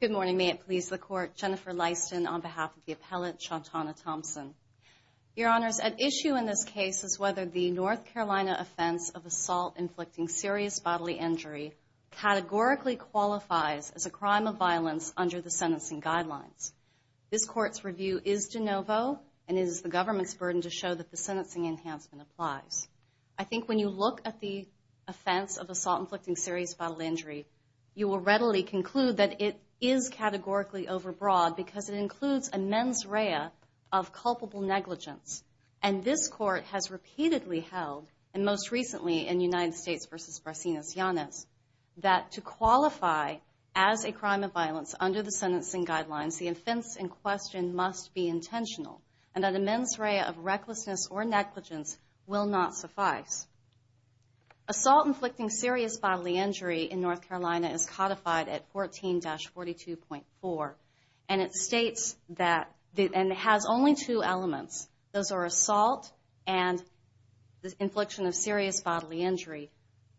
Good morning, may it please the court. Jennifer Lyston on behalf of the appellate Shawntanna Thompson. Your honors, at issue in this case is whether the North Carolina offense of assault inflicting serious bodily injury categorically qualifies as a crime of violence under the sentencing guidelines. This court's review is de novo and is the government's burden to show that the sentencing enhancement applies. I think when you look at the offense of assault inflicting serious bodily injury, you will readily conclude that it is categorically overbroad because it includes a mens rea of culpable negligence. And this court has repeatedly held, and most recently in United States v. Barsinas Yanez, that to qualify as a crime of violence under the sentencing guidelines, the offense in question must be intentional and that a mens rea of recklessness or negligence will not suffice. Assault inflicting serious bodily injury in North Carolina is codified at 14-42.4 and it states that, and it has only two elements, those are assault and the infliction of serious bodily injury.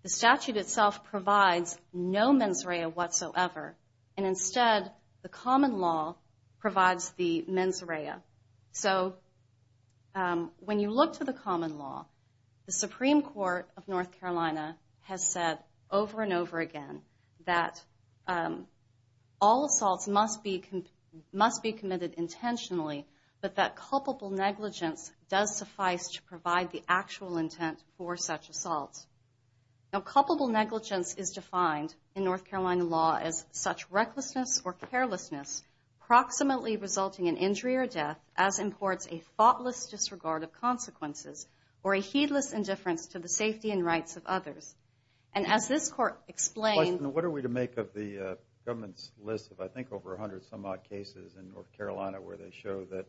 The statute itself provides no mens rea whatsoever and instead the common law provides the mens rea. So when you look at the common law, the Supreme Court of North Carolina has said over and over again that all assaults must be committed intentionally but that culpable negligence does suffice to provide the actual intent for such assault. Now culpable negligence is defined in North Carolina law as such recklessness or carelessness proximately resulting in injury or death as courts a thoughtless disregard of consequences or a heedless indifference to the safety and rights of others. And as this court explained... What are we to make of the government's list of I think over a hundred some odd cases in North Carolina where they show that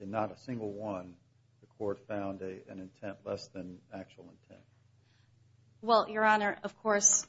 in not a single one the court found an intent less than actual intent? Well, Your Honor, of course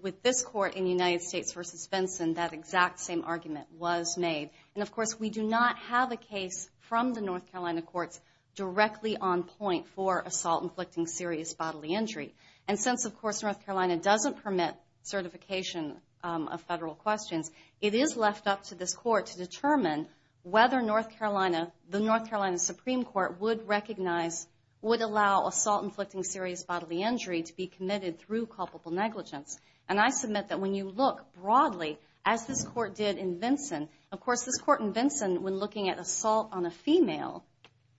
with this court in United States v. Benson that exact same argument was made. And of course we do not have a case from the North Carolina courts directly on point for assault inflicting serious bodily injury. And since of course North Carolina doesn't permit certification of federal questions, it is left up to this court to determine whether North Carolina, the North Carolina Supreme Court would recognize, would allow assault inflicting serious bodily injury to be committed through culpable negligence. And I submit that when you look broadly as this court did in Vinson, of course this court in Vinson when looking at assault on a female,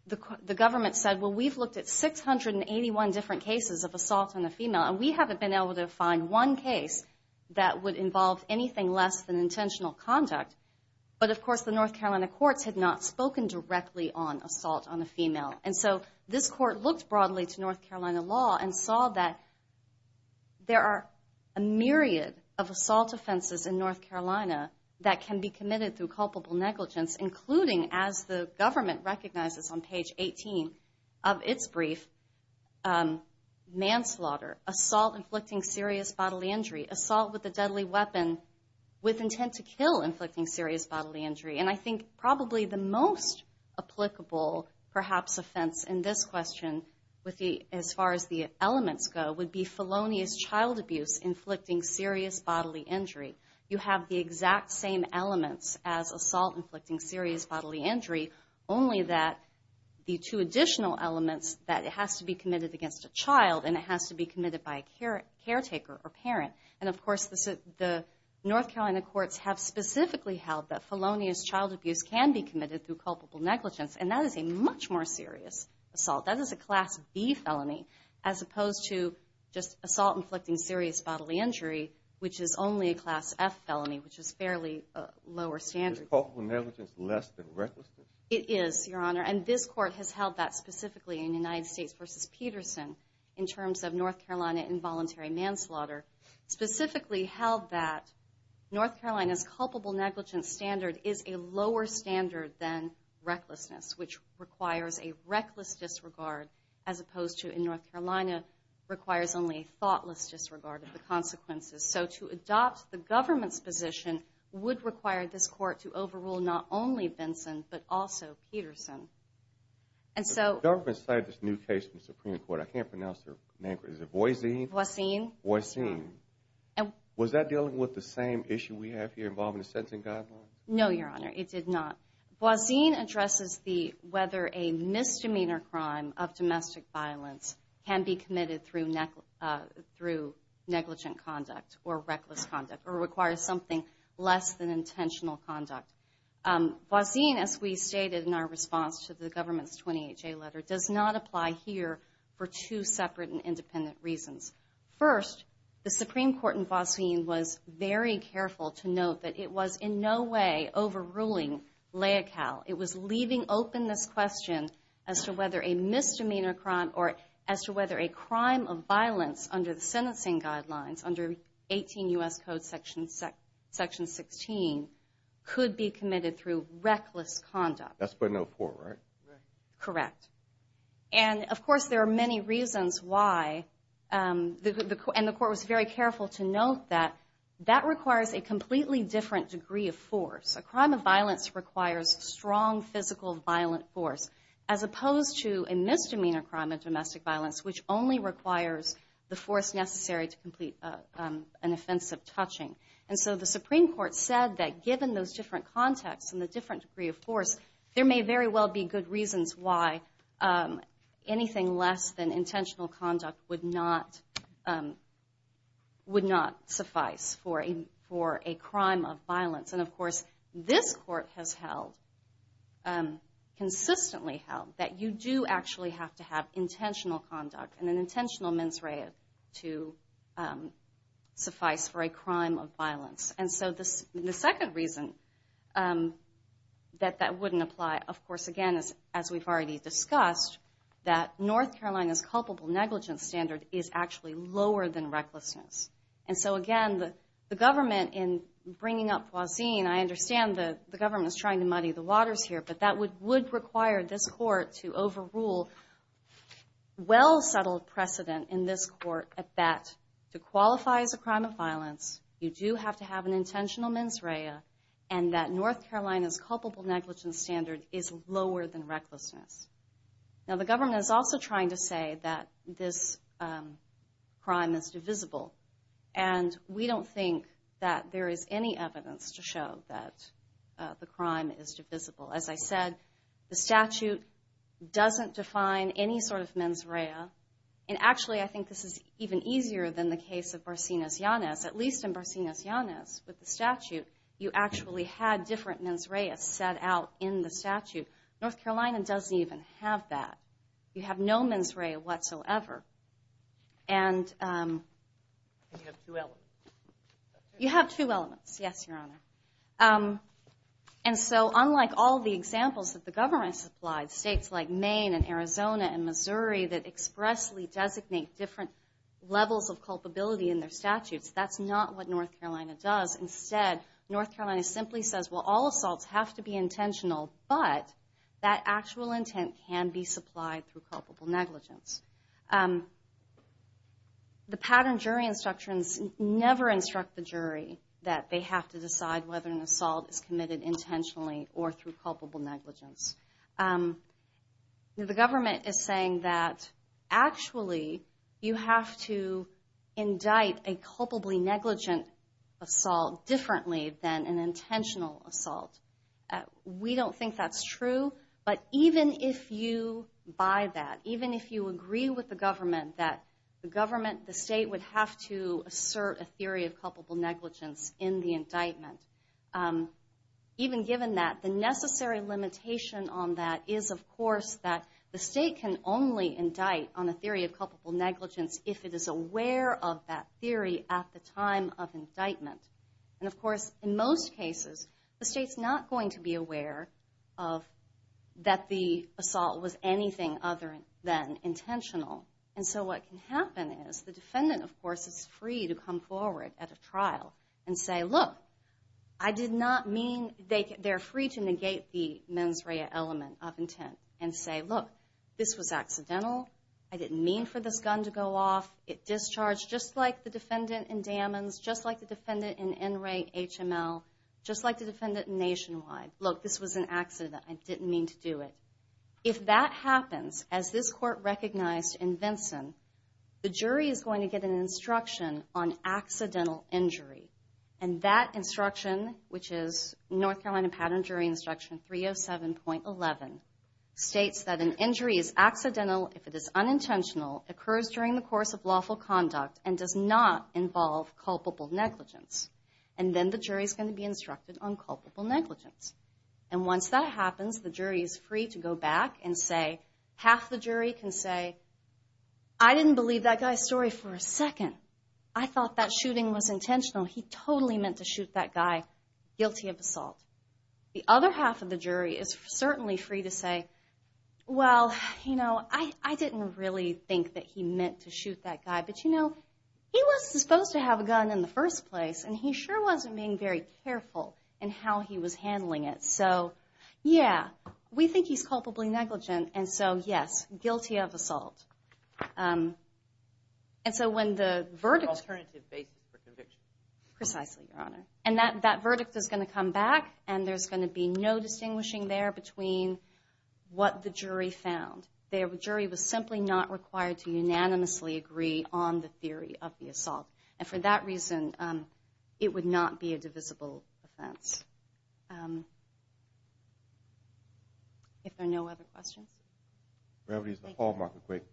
the government said well we've looked at 681 different cases of assault on a female and we haven't been able to find one case that would involve anything less than intentional conduct. But of course the North Carolina courts had not spoken directly on assault on a female. And so this court looked broadly to North Carolina law and saw that there are a myriad of assault offenses in North Carolina that can be committed through culpable negligence including as the government recognizes on page 18 of its brief, manslaughter, assault inflicting serious bodily injury, assault with a deadly weapon with intent to kill inflicting serious bodily injury. And I think probably the most applicable perhaps offense in this question with the as far as the elements go would be felonious child abuse inflicting serious bodily injury. You have the exact same elements as assault inflicting serious bodily injury only that the two additional elements that it has to be committed against a child and it has to be committed by a caretaker or parent. And of course the North Carolina courts have specifically held that felonious child abuse can be committed through culpable negligence and that is a much more serious assault. That is a assault inflicting serious bodily injury which is only a class F felony which is fairly lower standard. Is culpable negligence less than recklessness? It is your honor and this court has held that specifically in United States v. Peterson in terms of North Carolina involuntary manslaughter specifically held that North Carolina's culpable negligence standard is a lower standard than recklessness which requires a reckless disregard as opposed to in North Carolina requires only a thoughtless disregard of the consequences. So to adopt the government's position would require this court to overrule not only Benson but also Peterson. The government cited this new case from the Supreme Court. I can't pronounce her name. Is it Boisine? Was that dealing with the same issue we have here involving the sentencing guidelines? No your honor it did not. Boisine addresses the whether a misdemeanor crime of domestic violence can be committed through through negligent conduct or reckless conduct or requires something less than intentional conduct. Boisine as we stated in our response to the government's 28-J letter does not apply here for two separate and independent reasons. First the Supreme Court in Boisine was very careful to note that it was in no way overruling LAICAL. It was leaving open this question as to whether a misdemeanor crime or as to whether a crime of violence under the sentencing guidelines under 18 U.S. Code section 16 could be committed through reckless conduct. That's but no four right? Correct and of course there are many reasons why and the court was very careful to note that requires a completely different degree of force. A crime of violence requires strong physical violent force as opposed to a misdemeanor crime of domestic violence which only requires the force necessary to complete an offensive touching and so the Supreme Court said that given those different contexts and the different degree of force there may very well be good reasons why anything less than intentional conduct would not suffice for a crime of violence and of course this court has held, consistently held, that you do actually have to have intentional conduct and an intentional mens rea to suffice for a crime of violence and so this the second reason that that we've already discussed that North Carolina's culpable negligence standard is actually lower than recklessness and so again the government in bringing up Poisin, I understand that the government is trying to muddy the waters here but that would would require this court to overrule well-settled precedent in this court at that to qualify as a crime of violence you do have to have an intentional mens rea and that North Carolina's culpable negligence standard is lower than recklessness. Now the government is also trying to say that this crime is divisible and we don't think that there is any evidence to show that the crime is divisible. As I said the statute doesn't define any sort of mens rea and actually I think this is even easier than the case of Barcenas Yanez at least in Barcenas Yanez with the statute you actually had different mens rea set out in the statute. North Carolina doesn't even have that you have no mens rea whatsoever and you have two elements yes your honor and so unlike all the examples that the government supplied states like Maine and Arizona and Missouri that expressly designate different levels of culpability in their statutes that's not what North Carolina does instead North Carolina simply says well all assaults have to be intentional but that actual intent can be supplied through culpable negligence. The pattern jury instructions never instruct the jury that they have to decide whether an assault is committed intentionally or through culpable negligence. The government is saying that actually you have to indict a culpably negligent assault differently than an intentional assault. We don't think that's true but even if you buy that even if you agree with the government that the government the state would have to assert a theory of culpable negligence in the indictment even given that the necessary limitation on that is of course that the state can only indict on a theory of culpable negligence if it is aware of that theory at the time of indictment and of course in most cases the state's not going to be aware of that the assault was anything other than intentional and so what can happen is the defendant of course is free to come forward at a trial and say look I did not mean they they're free to negate the mens rea element of intent and say look this was accidental I didn't mean for this gun to go off it discharged just like the defendant nationwide look this was an accident I didn't mean to do it. If that happens as this court recognized in Vinson the jury is going to get an instruction on accidental injury and that instruction which is North Carolina Pattern Jury Instruction 307.11 states that an injury is accidental if it is unintentional occurs during the course of lawful conduct and does not involve culpable negligence and then the jury's going to be instructed on culpable negligence and once that happens the jury is free to go back and say half the jury can say I didn't believe that guy's story for a second I thought that shooting was intentional he totally meant to shoot that guy guilty of assault the other half of the jury is certainly free to say well you know I I didn't really think that he meant to shoot that guy but you know he was supposed to have a gun in the first place and he sure wasn't being very careful and how he was handling it so yeah we think he's culpably negligent and so yes guilty of assault and so when the verdict alternative basis for conviction precisely your honor and that that verdict is going to come back and there's going to be no distinguishing there between what the jury found their jury was simply not required to on the theory of the assault and for that reason it would not be a divisible offense if there are no other questions gravity is the hallmark of great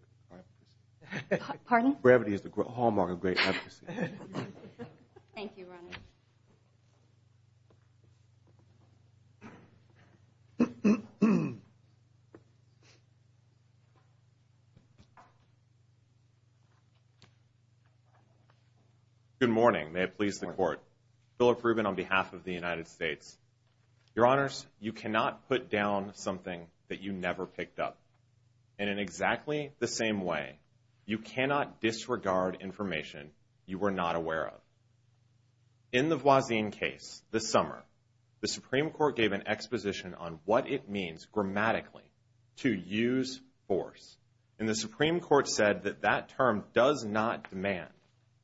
pardon gravity is the hallmark of great good morning may it please the court Philip Rubin on behalf of the United States your honors you cannot put down something that you never picked up and in exactly the same way you cannot disregard information you were not aware of in the Voisin case this summer the Supreme Court gave an exposition on what it means grammatically to use force in the Supreme Court said that that term does not demand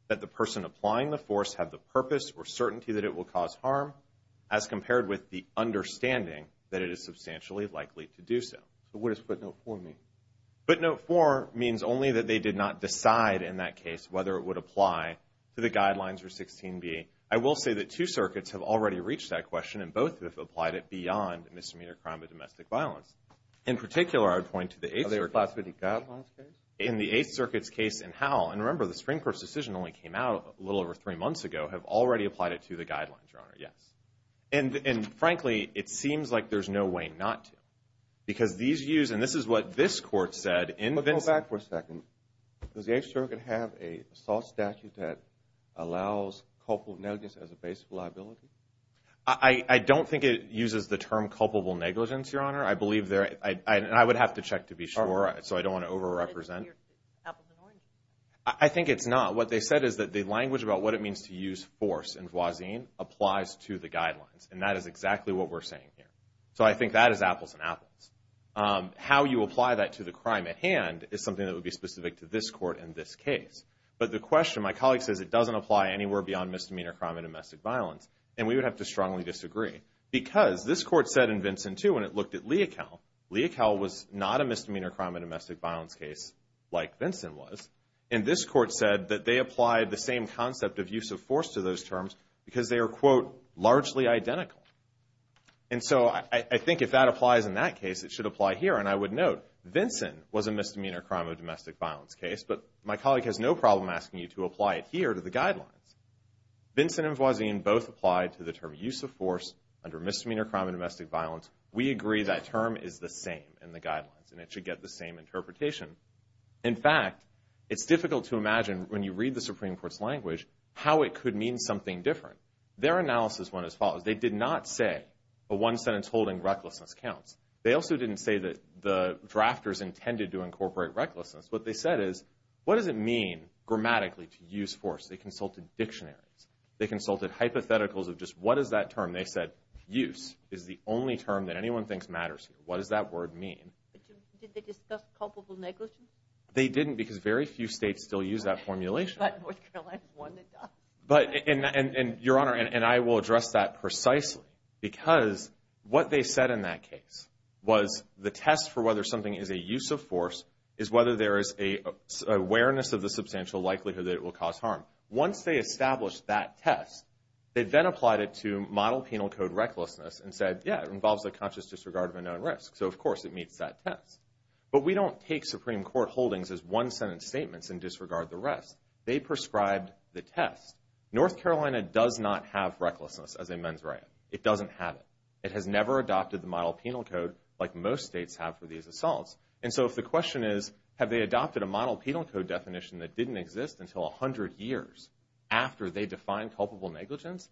that the person applying the force have the purpose or certainty that it will cause harm as compared with the understanding that it is substantially likely to do so what is put no for me but no for means only that they did not decide in that case whether it would apply to the guidelines for 16 be I will say that two circuits have already reached that question and both have applied it beyond misdemeanor crime in particular I would point to the in the Eighth Circuit's case and how and remember the Supreme Court's decision only came out a little over three months ago have already applied it to the guidelines yes and and frankly it seems like there's no way not to because these use and this is what this court said in the back for a second does the extra could have a soft statute that allows culpable negligence as a I I don't think it uses the term culpable negligence your honor I believe there I would have to check to be sure so I don't over represent I think it's not what they said is that the language about what it means to use force and was in applies to the guidelines and that is exactly what we're saying so I think that is apples and apples how you apply that to the crime at hand is something that would be specific to this court in this case but the question my misdemeanor crime and domestic violence and we would have to strongly disagree because this court said in Vincent to when it looked at Lee account Lee account was not a misdemeanor crime and domestic violence case like Vincent was in this court said that they applied the same concept of use of force to those terms because they are quote largely identical and so I think if that applies in that case it should apply here and I would note Vincent was a misdemeanor crime of domestic violence case but my colleague has no problem asking you to apply it to the guidelines Vincent and was in both applied to the term use of force under misdemeanor crime and domestic violence we agree that term is the same in the guidelines and it should get the same interpretation in fact it's difficult to imagine when you read the Supreme Court's language how it could mean something different their analysis went as follows they did not say a one sentence holding recklessness counts they also didn't say that the drafters intended to incorporate recklessness what they said is what does it mean grammatically to use force they consulted dictionaries they consulted hypotheticals of just what is that term they said use is the only term that anyone thinks matters what does that word mean they didn't because very few states still use that formulation but in and your honor and I will address that precisely because what they said in that case was the test for whether something is a use of force is whether there is a awareness of the substantial likelihood that it will cause harm once they established that test they then applied it to model penal code recklessness and said yeah it involves a conscious disregard of a known risk so of course it meets that test but we don't take Supreme Court holdings as one sentence statements and disregard the rest they prescribed the test North Carolina does not have recklessness as a men's riot it doesn't have it it has never adopted the model penal code like most states have for these assaults and so if the question is have they adopted a model penal code definition that didn't exist until a hundred years after they define culpable negligence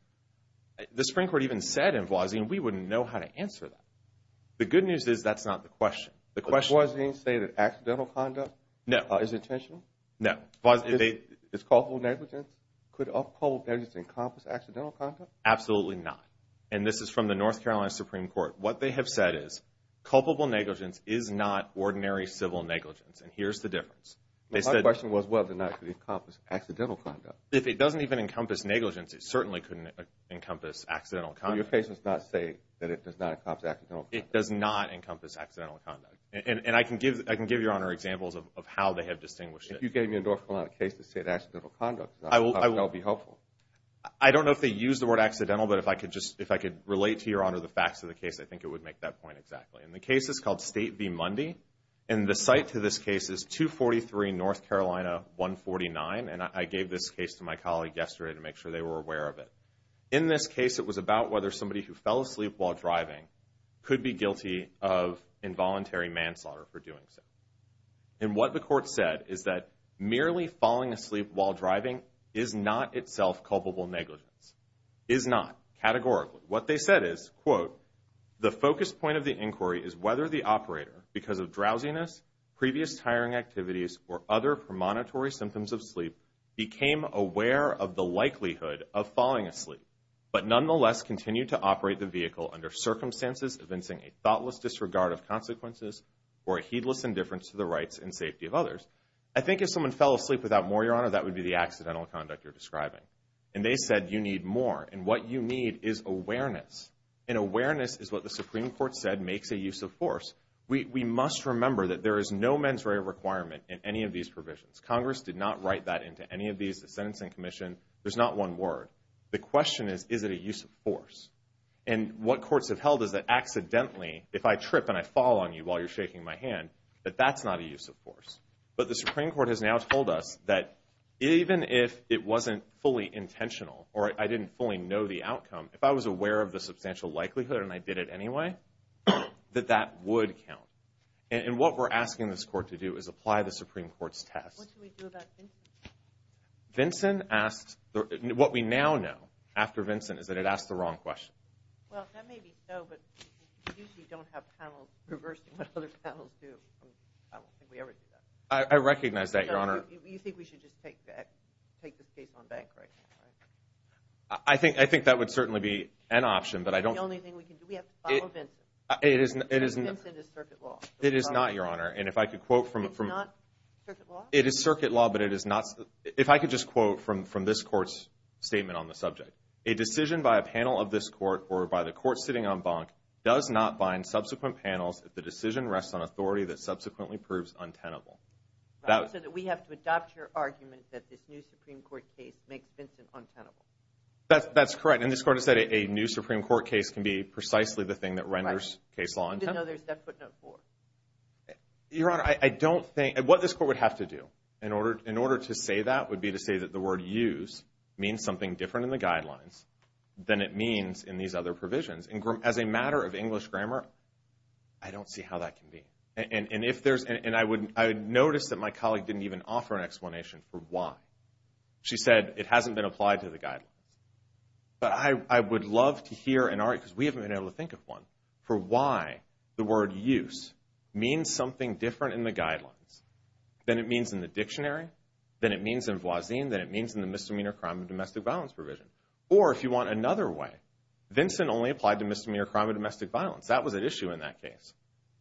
the Supreme Court even said in Voisin we wouldn't know how to answer the good news is that's not the question the question was being stated accidental conduct no is intentional no was it a it's called negligence could uphold everything compass accidental conduct absolutely not and this is from the North Carolina Supreme Court what they have said is culpable negligence is not ordinary civil negligence and here's the difference they said the question was whether not to be accomplished accidental conduct if it doesn't even encompass negligence it certainly couldn't encompass accidental your patients not say that it does not accomplish it does not encompass accidental conduct and and I can give I can give your honor examples of how they have distinguished if you gave me a North Carolina case to say that's difficult conduct I will I will be helpful I don't know if they use the word accidental but if I could just if I could relate to your honor the facts of the case I think it would make that point exactly in the case is called State v. Mundy and the site to this case is 243 North Carolina 149 and I gave this case to my colleague yesterday to make sure they were aware of it in this case it was about whether somebody who fell asleep while driving could be guilty of involuntary manslaughter for doing so and what the court said is that merely falling asleep while driving is not itself culpable negligence is not categorically what they said is quote the focus point of the inquiry is whether the operator because of drowsiness previous tiring activities or other premonitory symptoms of sleep became aware of the likelihood of falling asleep but nonetheless continued to operate the vehicle under circumstances evincing a thoughtless disregard of consequences or heedless indifference to the rights and safety of others I think if someone fell asleep without more your honor that would be the accidental conduct you're describing and they said you need more and what you need is awareness and awareness is what the Supreme Court said makes a use of force we must remember that there is no mens rea requirement in any of these provisions Congress did not write that into any of these the Sentencing Commission there's not one word the question is is it a use of force and what courts have held is that accidentally if I trip and I fall on you while you're shaking my hand but that's not a use of force but the Supreme Court has now told us that even if it wasn't fully intentional or I didn't fully know the outcome if I was aware of the substantial likelihood and I did it anyway that that would count and what we're asking this court to do is apply the Supreme Court's test Vincent asked what we now know after Vincent is that it asked the wrong question I recognize that your honor I think I think that would certainly be an option but I don't it isn't it is not your honor and if I could quote from it from it is circuit law but it is not if I could just quote from from this court's statement on the subject a decision by a panel of this court or by the court sitting on bunk does not bind subsequent panels if the decision rests on authority that subsequently proves untenable that we have to adopt your argument that this new Supreme Court that's that's correct and this court has said a new Supreme Court case can be precisely the thing that renders case law your honor I don't think what this court would have to do in order in order to say that would be to say that the word use means something different in the guidelines than it means in these other provisions and as a matter of English grammar I don't see how that can be and and if there's and I wouldn't I would notice that my colleague didn't even offer an explanation for why she said it hasn't been applied to the guidelines but I would love to hear an art because we haven't been able to think of one for why the word use means something different in the guidelines then it means in the dictionary then it means in Voisin then it means in the misdemeanor crime of domestic violence provision or if you want another way Vincent only applied to misdemeanor crime of domestic violence that was an issue in that case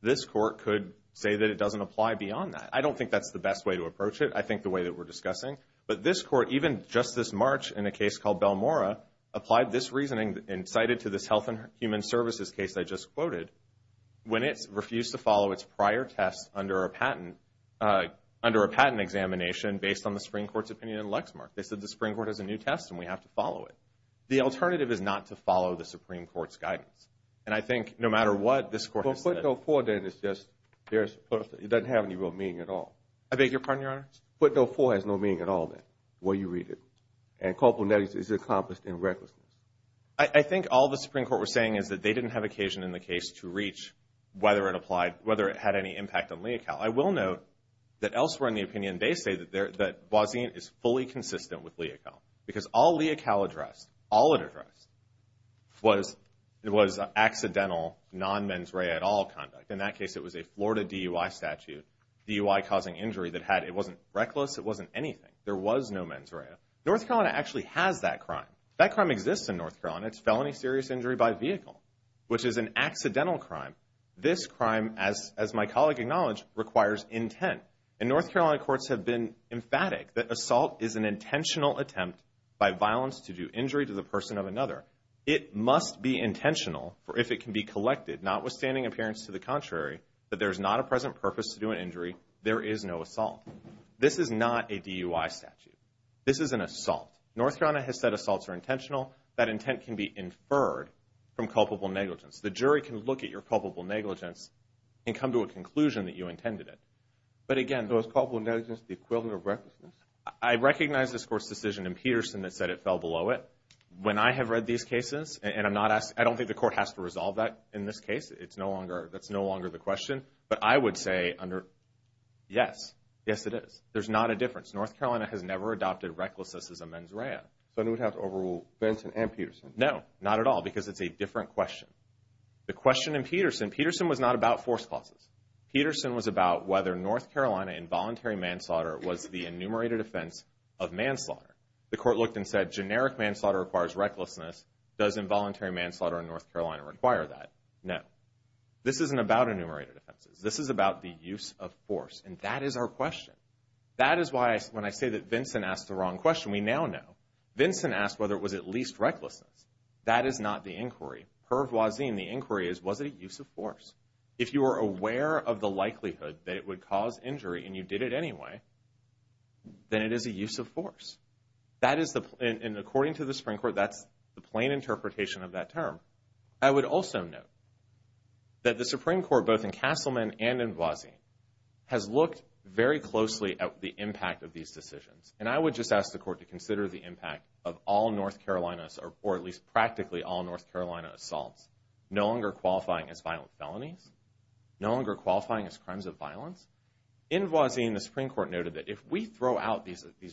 this court could say that it doesn't apply beyond that I don't think that's the best way to approach it I think the way that we're discussing but this court even just this March in a case called Bell Mora applied this reasoning incited to this Health and Human Services case I just quoted when it's refused to follow its prior tests under a patent under a patent examination based on the Supreme Court's opinion in Lexmark they said the Supreme Court has a new test and we have to follow it the alternative is not to follow the Supreme Court's guidance and I think no matter what this court before then it's just there's it doesn't have any real meaning at all I beg your pardon your honor but no for has no meaning at all that where you read it and couple net is accomplished in recklessness I think all the Supreme Court was saying is that they didn't have occasion in the case to reach whether it applied whether it had any impact on Lee account I will note that elsewhere in the opinion they say that there that Voisin is fully consistent with Lee account because all Lee account addressed all it addressed was it was accidental non mens rea at all conduct in that case it was a Florida DUI statute DUI causing injury that had it wasn't reckless it wasn't anything there was no mens rea North Carolina actually has that crime that crime exists in North Carolina it's felony serious injury by vehicle which is an accidental crime this crime as as my colleague acknowledged requires intent and North Carolina courts have been emphatic that assault is an intentional attempt by if it can be collected notwithstanding appearance to the contrary that there's not a present purpose to do an injury there is no assault this is not a DUI statute this is an assault North Carolina has said assaults are intentional that intent can be inferred from culpable negligence the jury can look at your culpable negligence and come to a conclusion that you intended it but again those couple negligence the equivalent of recklessness I recognize this court's decision in Peterson that said it fell below it when I have read these cases and I'm not asked I don't think the court has to resolve that in this case it's no longer that's no longer the question but I would say under yes yes it is there's not a difference North Carolina has never adopted recklessness as a mens rea so I don't have to overrule Benson and Peterson no not at all because it's a different question the question in Peterson Peterson was not about force clauses Peterson was about whether North Carolina involuntary manslaughter was the enumerated offense of manslaughter the court looked and said generic manslaughter requires recklessness does involuntary manslaughter in North Carolina require that no this isn't about enumerated offenses this is about the use of force and that is our question that is why when I say that Vincent asked the wrong question we now know Vincent asked whether it was at least recklessness that is not the inquiry per voisin the inquiry is was it a use of force if you are aware of the likelihood that it would cause injury and you did it anyway then it is a use of force that is the plan and according to the Supreme Court that's the plain interpretation of that term I would also know that the Supreme Court both in Castleman and in Voisin has looked very closely at the impact of these decisions and I would just ask the court to consider the impact of all North Carolina's or at least practically all North Carolina assaults no longer qualifying as violent felonies no longer qualifying as crimes of violence in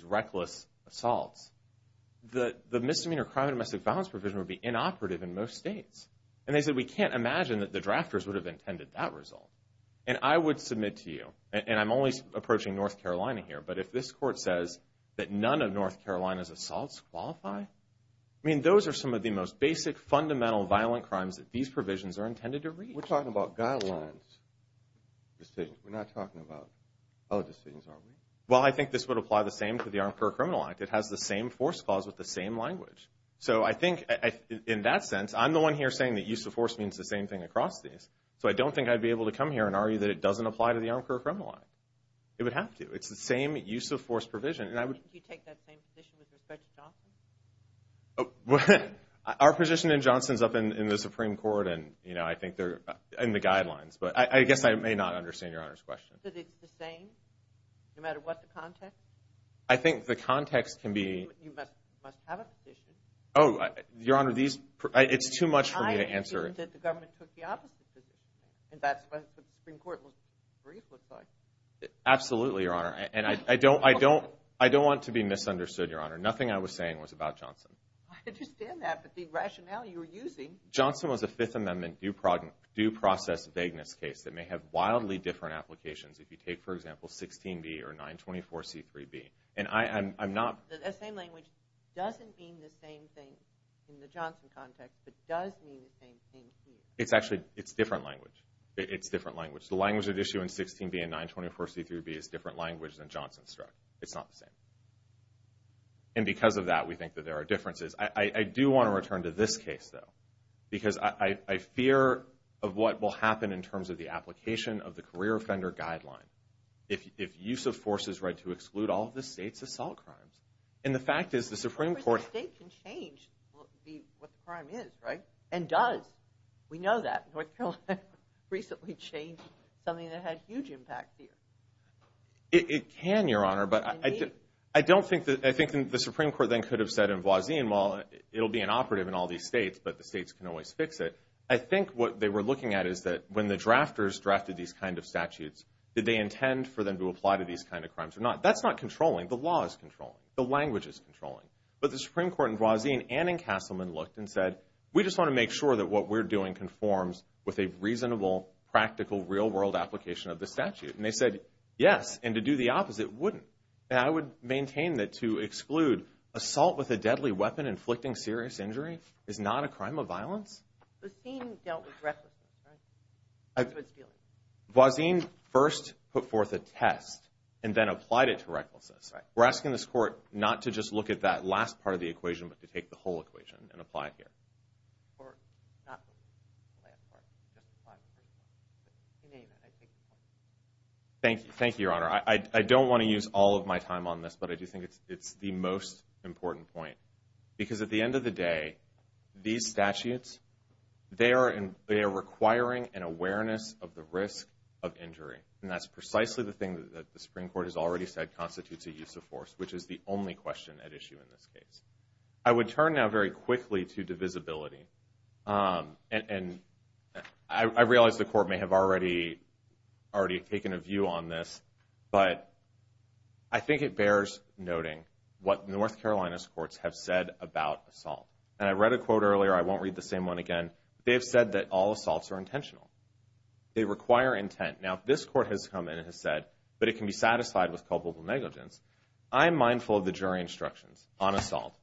reckless assaults the the misdemeanor crime domestic violence provision would be inoperative in most states and they said we can't imagine that the drafters would have intended that result and I would submit to you and I'm only approaching North Carolina here but if this court says that none of North Carolina's assaults qualify I mean those are some of the most basic fundamental violent crimes that these provisions are intended to read we're talking about guidelines decisions we're not talking about other things are well I think this would apply the same to the arm for criminal act it has the same force clause with the same language so I think I in that sense I'm the one here saying that use of force means the same thing across these so I don't think I'd be able to come here and argue that it doesn't apply to the arm for criminal act it would have to it's the same use of force provision and I would our position in Johnson's up in the Supreme Court and you know I think they're in the guidelines but I guess I may not understand your honor's question I think the context can be oh your honor these it's too much for me to answer absolutely your honor and I don't I don't I don't want to be misunderstood your honor nothing I was saying was about Johnson Johnson was a Fifth Amendment do product due process vagueness case that may have wildly different applications if you take for example 16 be or 924 c3 be and I am I'm not it's actually it's different language it's different language the language of issue in 16 be a 924 c3 be is different language than Johnson struck it's not the same and because of that we think that there are differences I do want to return to this case though because I fear of what will happen in the career offender guideline if use of force is read to exclude all of the state's assault crimes and the fact is the Supreme Court and does we know that North Carolina recently changed something that had huge impact here it can your honor but I did I don't think that I think the Supreme Court then could have said in Voisin while it'll be an operative in all these states but the states can always fix it I think what they were looking at is that when the statutes that they intend for them to apply to these kind of crimes are not that's not controlling the laws control the language is controlling but the Supreme Court in Voisin and in Castleman looked and said we just want to make sure that what we're doing conforms with a reasonable practical real-world application of the statute and they said yes and to do the opposite wouldn't I would maintain that to exclude assault with a deadly weapon inflicting serious injury is not a crime of violence Voisin first put forth a test and then applied it to recklessness we're asking this court not to just look at that last part of the equation but to take the whole equation and apply here thank you thank you your honor I don't want to use all of my time on this but I do think it's the most important point because at the end of the day these statutes they are and they are requiring an awareness of the risk of injury and that's precisely the thing that the Supreme Court has already said constitutes a use of force which is the only question at issue in this case I would turn now very quickly to divisibility and I realize the court may have already already taken a view on this but I think it bears noting what North Carolina's courts have said about assault and I read a quote earlier I won't read the same one again they've said that all assaults are intentional they require intent now this court has come in and has said but it can be satisfied with culpable negligence I am mindful of the jury instructions on assault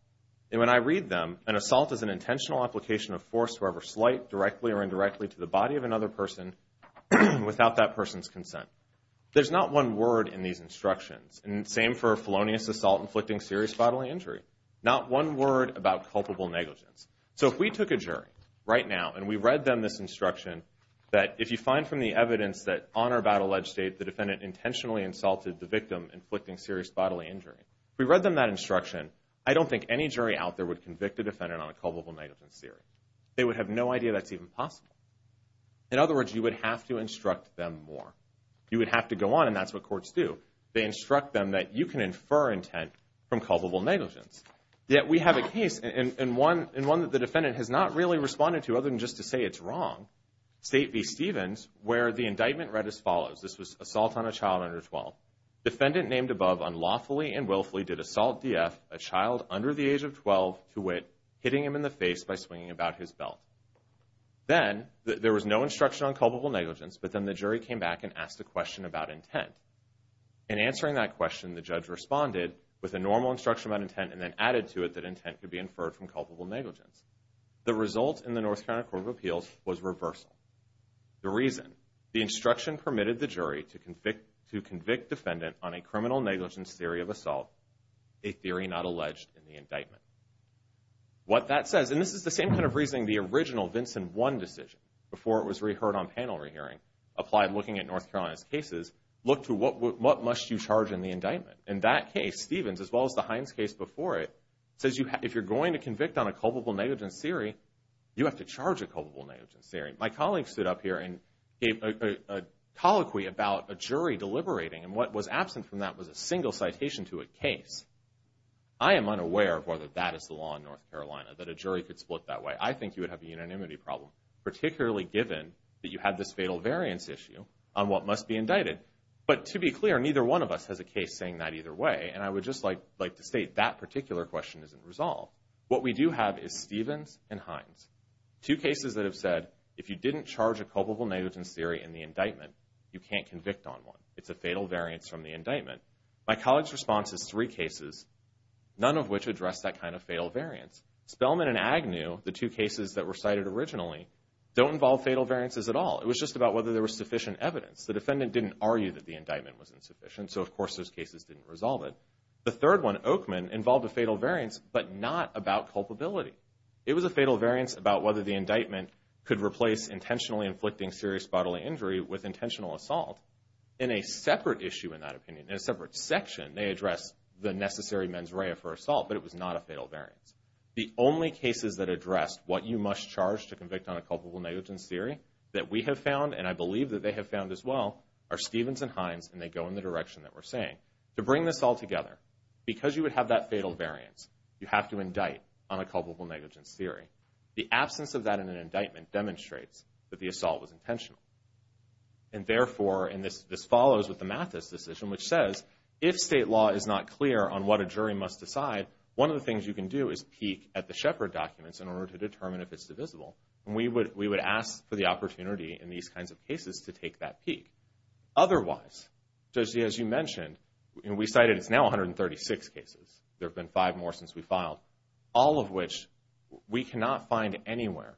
and when I read them an assault is an intentional application of force whoever slight directly or indirectly to the body of another person without that person's consent there's not one word in these instructions and same for felonious assault inflicting serious bodily injury not one word about culpable negligence so if we took a jury right now and we read them this instruction that if you find from the evidence that on or about alleged state the defendant intentionally insulted the victim inflicting serious bodily injury we read them that instruction I don't think any jury out there would convict a they would have no idea that's even possible in other words you would have to instruct them more you would have to go on and that's what courts do they instruct them that you can infer intent from culpable negligence yet we have a case in one in one that the defendant has not really responded to other than just to say it's wrong state v. Stevens where the indictment read as follows this was assault on a child under 12 defendant named above unlawfully and the face by swinging about his belt then there was no instruction on culpable negligence but then the jury came back and asked a question about intent in answering that question the judge responded with a normal instruction about intent and then added to it that intent could be inferred from culpable negligence the result in the North Carolina Court of Appeals was reversal the reason the instruction permitted the jury to convict to convict defendant on a criminal negligence theory of assault a theory not alleged in the indictment what that says and this is the same kind of reasoning the original Vincent one decision before it was reheard on panel rehearing applied looking at North Carolina's cases look to what what must you charge in the indictment in that case Stevens as well as the Hines case before it says you if you're going to convict on a culpable negligence theory you have to charge a culpable negligence theory my colleagues stood up here and gave a colloquy about a jury deliberating and what was absent from that was a single citation to a case I am unaware of whether that is the law in North Carolina that a jury could split that way I think you would have a unanimity problem particularly given that you had this fatal variance issue on what must be indicted but to be clear neither one of us has a case saying that either way and I would just like like to state that particular question isn't resolved what we do have is Stevens and Hines two cases that have said if you didn't charge a culpable negligence theory in the indictment you can't convict on one it's a fatal variance from the indictment my colleagues response is three cases none of which address that kind of fatal variance Spellman and Agnew the two cases that were cited originally don't involve fatal variances at all it was just about whether there was sufficient evidence the defendant didn't argue that the indictment was insufficient so of course those cases didn't resolve it the third one Oakman involved a fatal variance but not about culpability it was a fatal variance about whether the indictment could replace intentionally inflicting serious bodily injury with intentional assault in a separate issue in that opinion in a separate section they address the necessary mens rea for assault but it was not a fatal variance the only cases that addressed what you must charge to convict on a culpable negligence theory that we have found and I believe that they have found as well are Stevens and Hines and they go in the direction that we're saying to bring this all together because you would have that fatal variance you have to indict on a culpable negligence theory the assault was intentional and therefore in this this follows with the math this decision which says if state law is not clear on what a jury must decide one of the things you can do is peek at the Shepherd documents in order to determine if it's divisible and we would we would ask for the opportunity in these kinds of cases to take that peek otherwise just as you mentioned and we cited it's now 136 cases there have been five more since we filed all of which we cannot find anywhere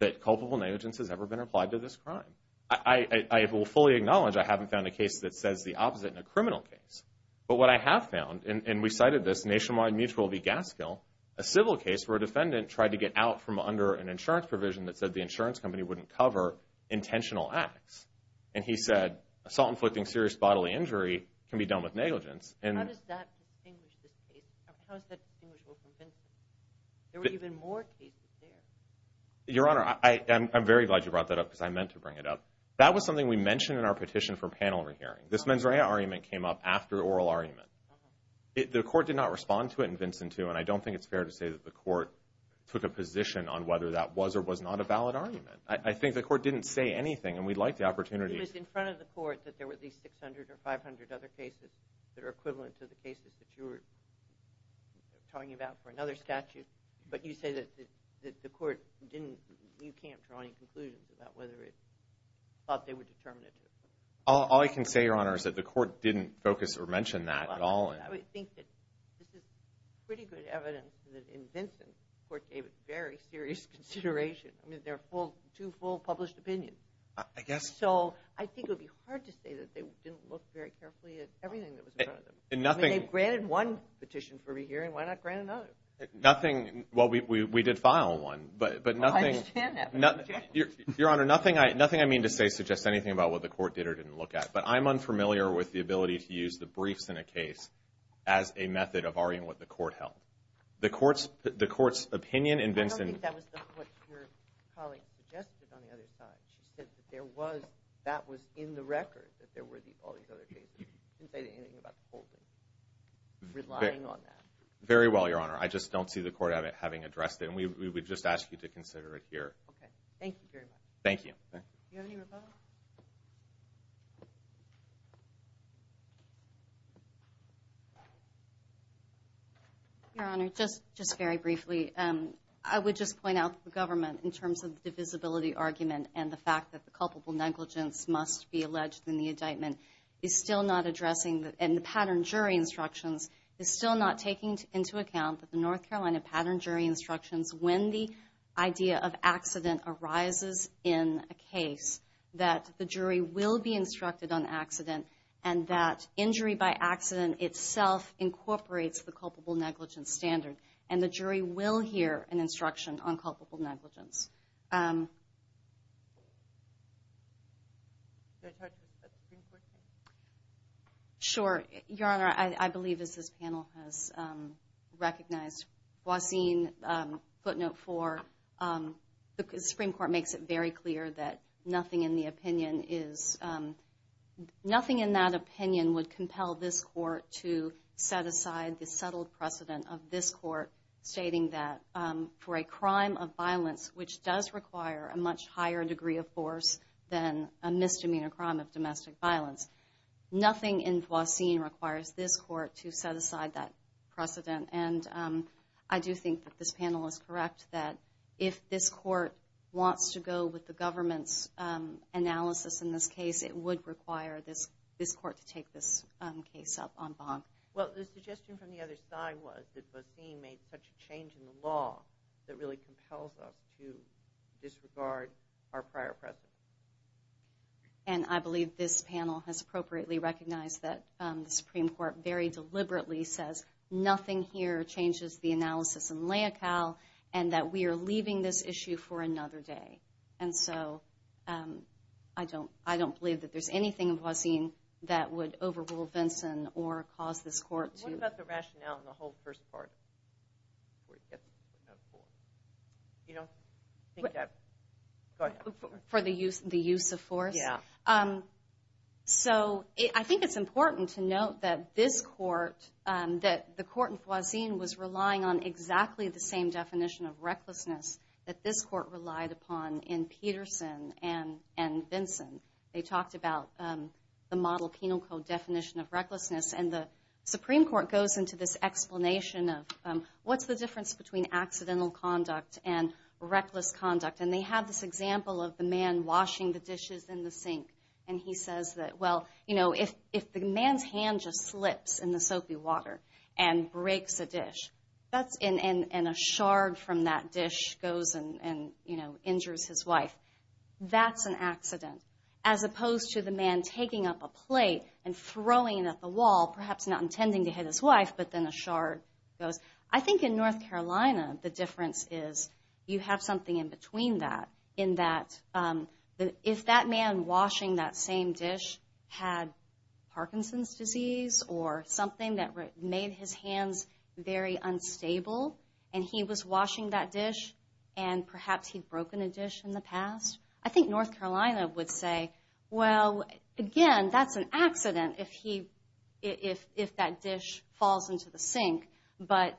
that culpable negligence has ever been applied to this crime I will fully acknowledge I haven't found a case that says the opposite in a criminal case but what I have found and we cited this nationwide mutual be gas kill a civil case where a defendant tried to get out from under an insurance provision that said the insurance company wouldn't cover intentional acts and he said assault inflicting serious bodily injury can be done with your honor I am very glad you brought that up because I meant to bring it up that was something we mentioned in our petition for panel rehearing this mens rea argument came up after oral argument the court did not respond to it and Vincent to and I don't think it's fair to say that the court took a position on whether that was or was not a valid argument I think the court didn't say anything and we'd like the opportunity in front of the court that there were at least 600 or 500 other cases that are equivalent to the cases that you were talking about for another statute but you say that the court didn't you can't draw any conclusions about whether it thought they would determine it all I can say your honor is that the court didn't focus or mention that at all I would think that this is pretty good evidence that in Vincent court gave it very serious consideration I mean they're full to full published opinion I guess so I think it'd be hard to say that they didn't look very petition for me here and why not grant another nothing well we did file one but but nothing not your honor nothing I nothing I mean to say suggest anything about what the court did or didn't look at but I'm unfamiliar with the ability to use the briefs in a case as a method of arguing what the court held the very well your honor I just don't see the court of it having addressed it and we would just ask you to consider it here thank you your honor just just very briefly and I would just point out the government in terms of the visibility argument and the fact that the culpable negligence must be alleged in the indictment is still not addressing that and the pattern jury instructions is still not taking into account that the North Carolina pattern jury instructions when the idea of accident arises in a case that the jury will be instructed on accident and that injury by accident itself incorporates the culpable negligence standard and the jury will hear an instruction on nothing in that opinion would compel this court to set aside the settled precedent of this court stating that for a crime of violence which does require a much higher degree of force than a misdemeanor crime of domestic violence nothing in Voisin requires this court to set aside that precedent and I do think that this panel is correct that if this court wants to go with the government's analysis in this case it would require this this court to take this case up on bond well the suggestion from the other side was that was he made such a change in the law that really compels us to disregard our prior president and I believe this panel has appropriately recognized that the Supreme Court very deliberately says nothing here changes the analysis and lay a cow and that we are leaving this issue for another day and so I don't I don't believe that there's anything in Voisin that would overrule Vinson or cause this court to the use of force yeah so I think it's important to note that this court that the court in Voisin was relying on exactly the same definition of recklessness that this court relied upon in Peterson and and Vinson they talked about the model penal code definition of recklessness and the Supreme Court goes into this explanation of what's the difference between accidental conduct and reckless conduct and they have this example of the man washing the dishes in the sink and he says that well you know if if the man's hand just slips in the soapy water and breaks a dish that's in and a shard from that dish goes and you know injures his wife that's an accident as opposed to the man taking up a plate and throwing it at the wall perhaps not intending to hit his wife but then a shard goes I think in North Carolina the difference is you have something in between that in that if that man washing that same dish had Parkinson's disease or something that made his hands very unstable and he was washing that dish and perhaps he'd broken a dish in the past I think North Carolina would say well again that's an accident if he if if that dish falls into the sink but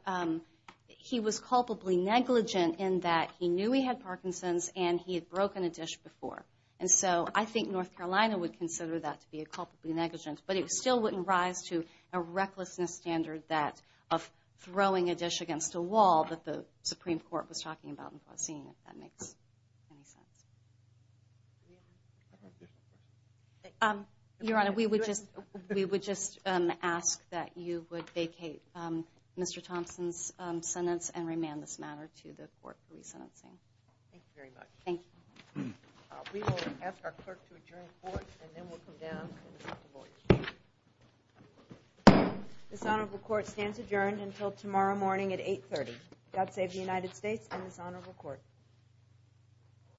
he was culpably negligent in that he knew he had Parkinson's and he had broken a dish before and so I think North Carolina would consider that to be a culpably negligent but it still wouldn't rise to a recklessness standard that of throwing a dish against a wall that the Supreme Court was talking about in the scene if that makes any sense your honor we would just we would just ask that you would vacate mr. Thompson's sentence and remand this matter to the court for re-sentencing thank you very much we will ask our clerk to adjourn this honorable court stands adjourned until tomorrow morning at 830 God save the United States and this honorable court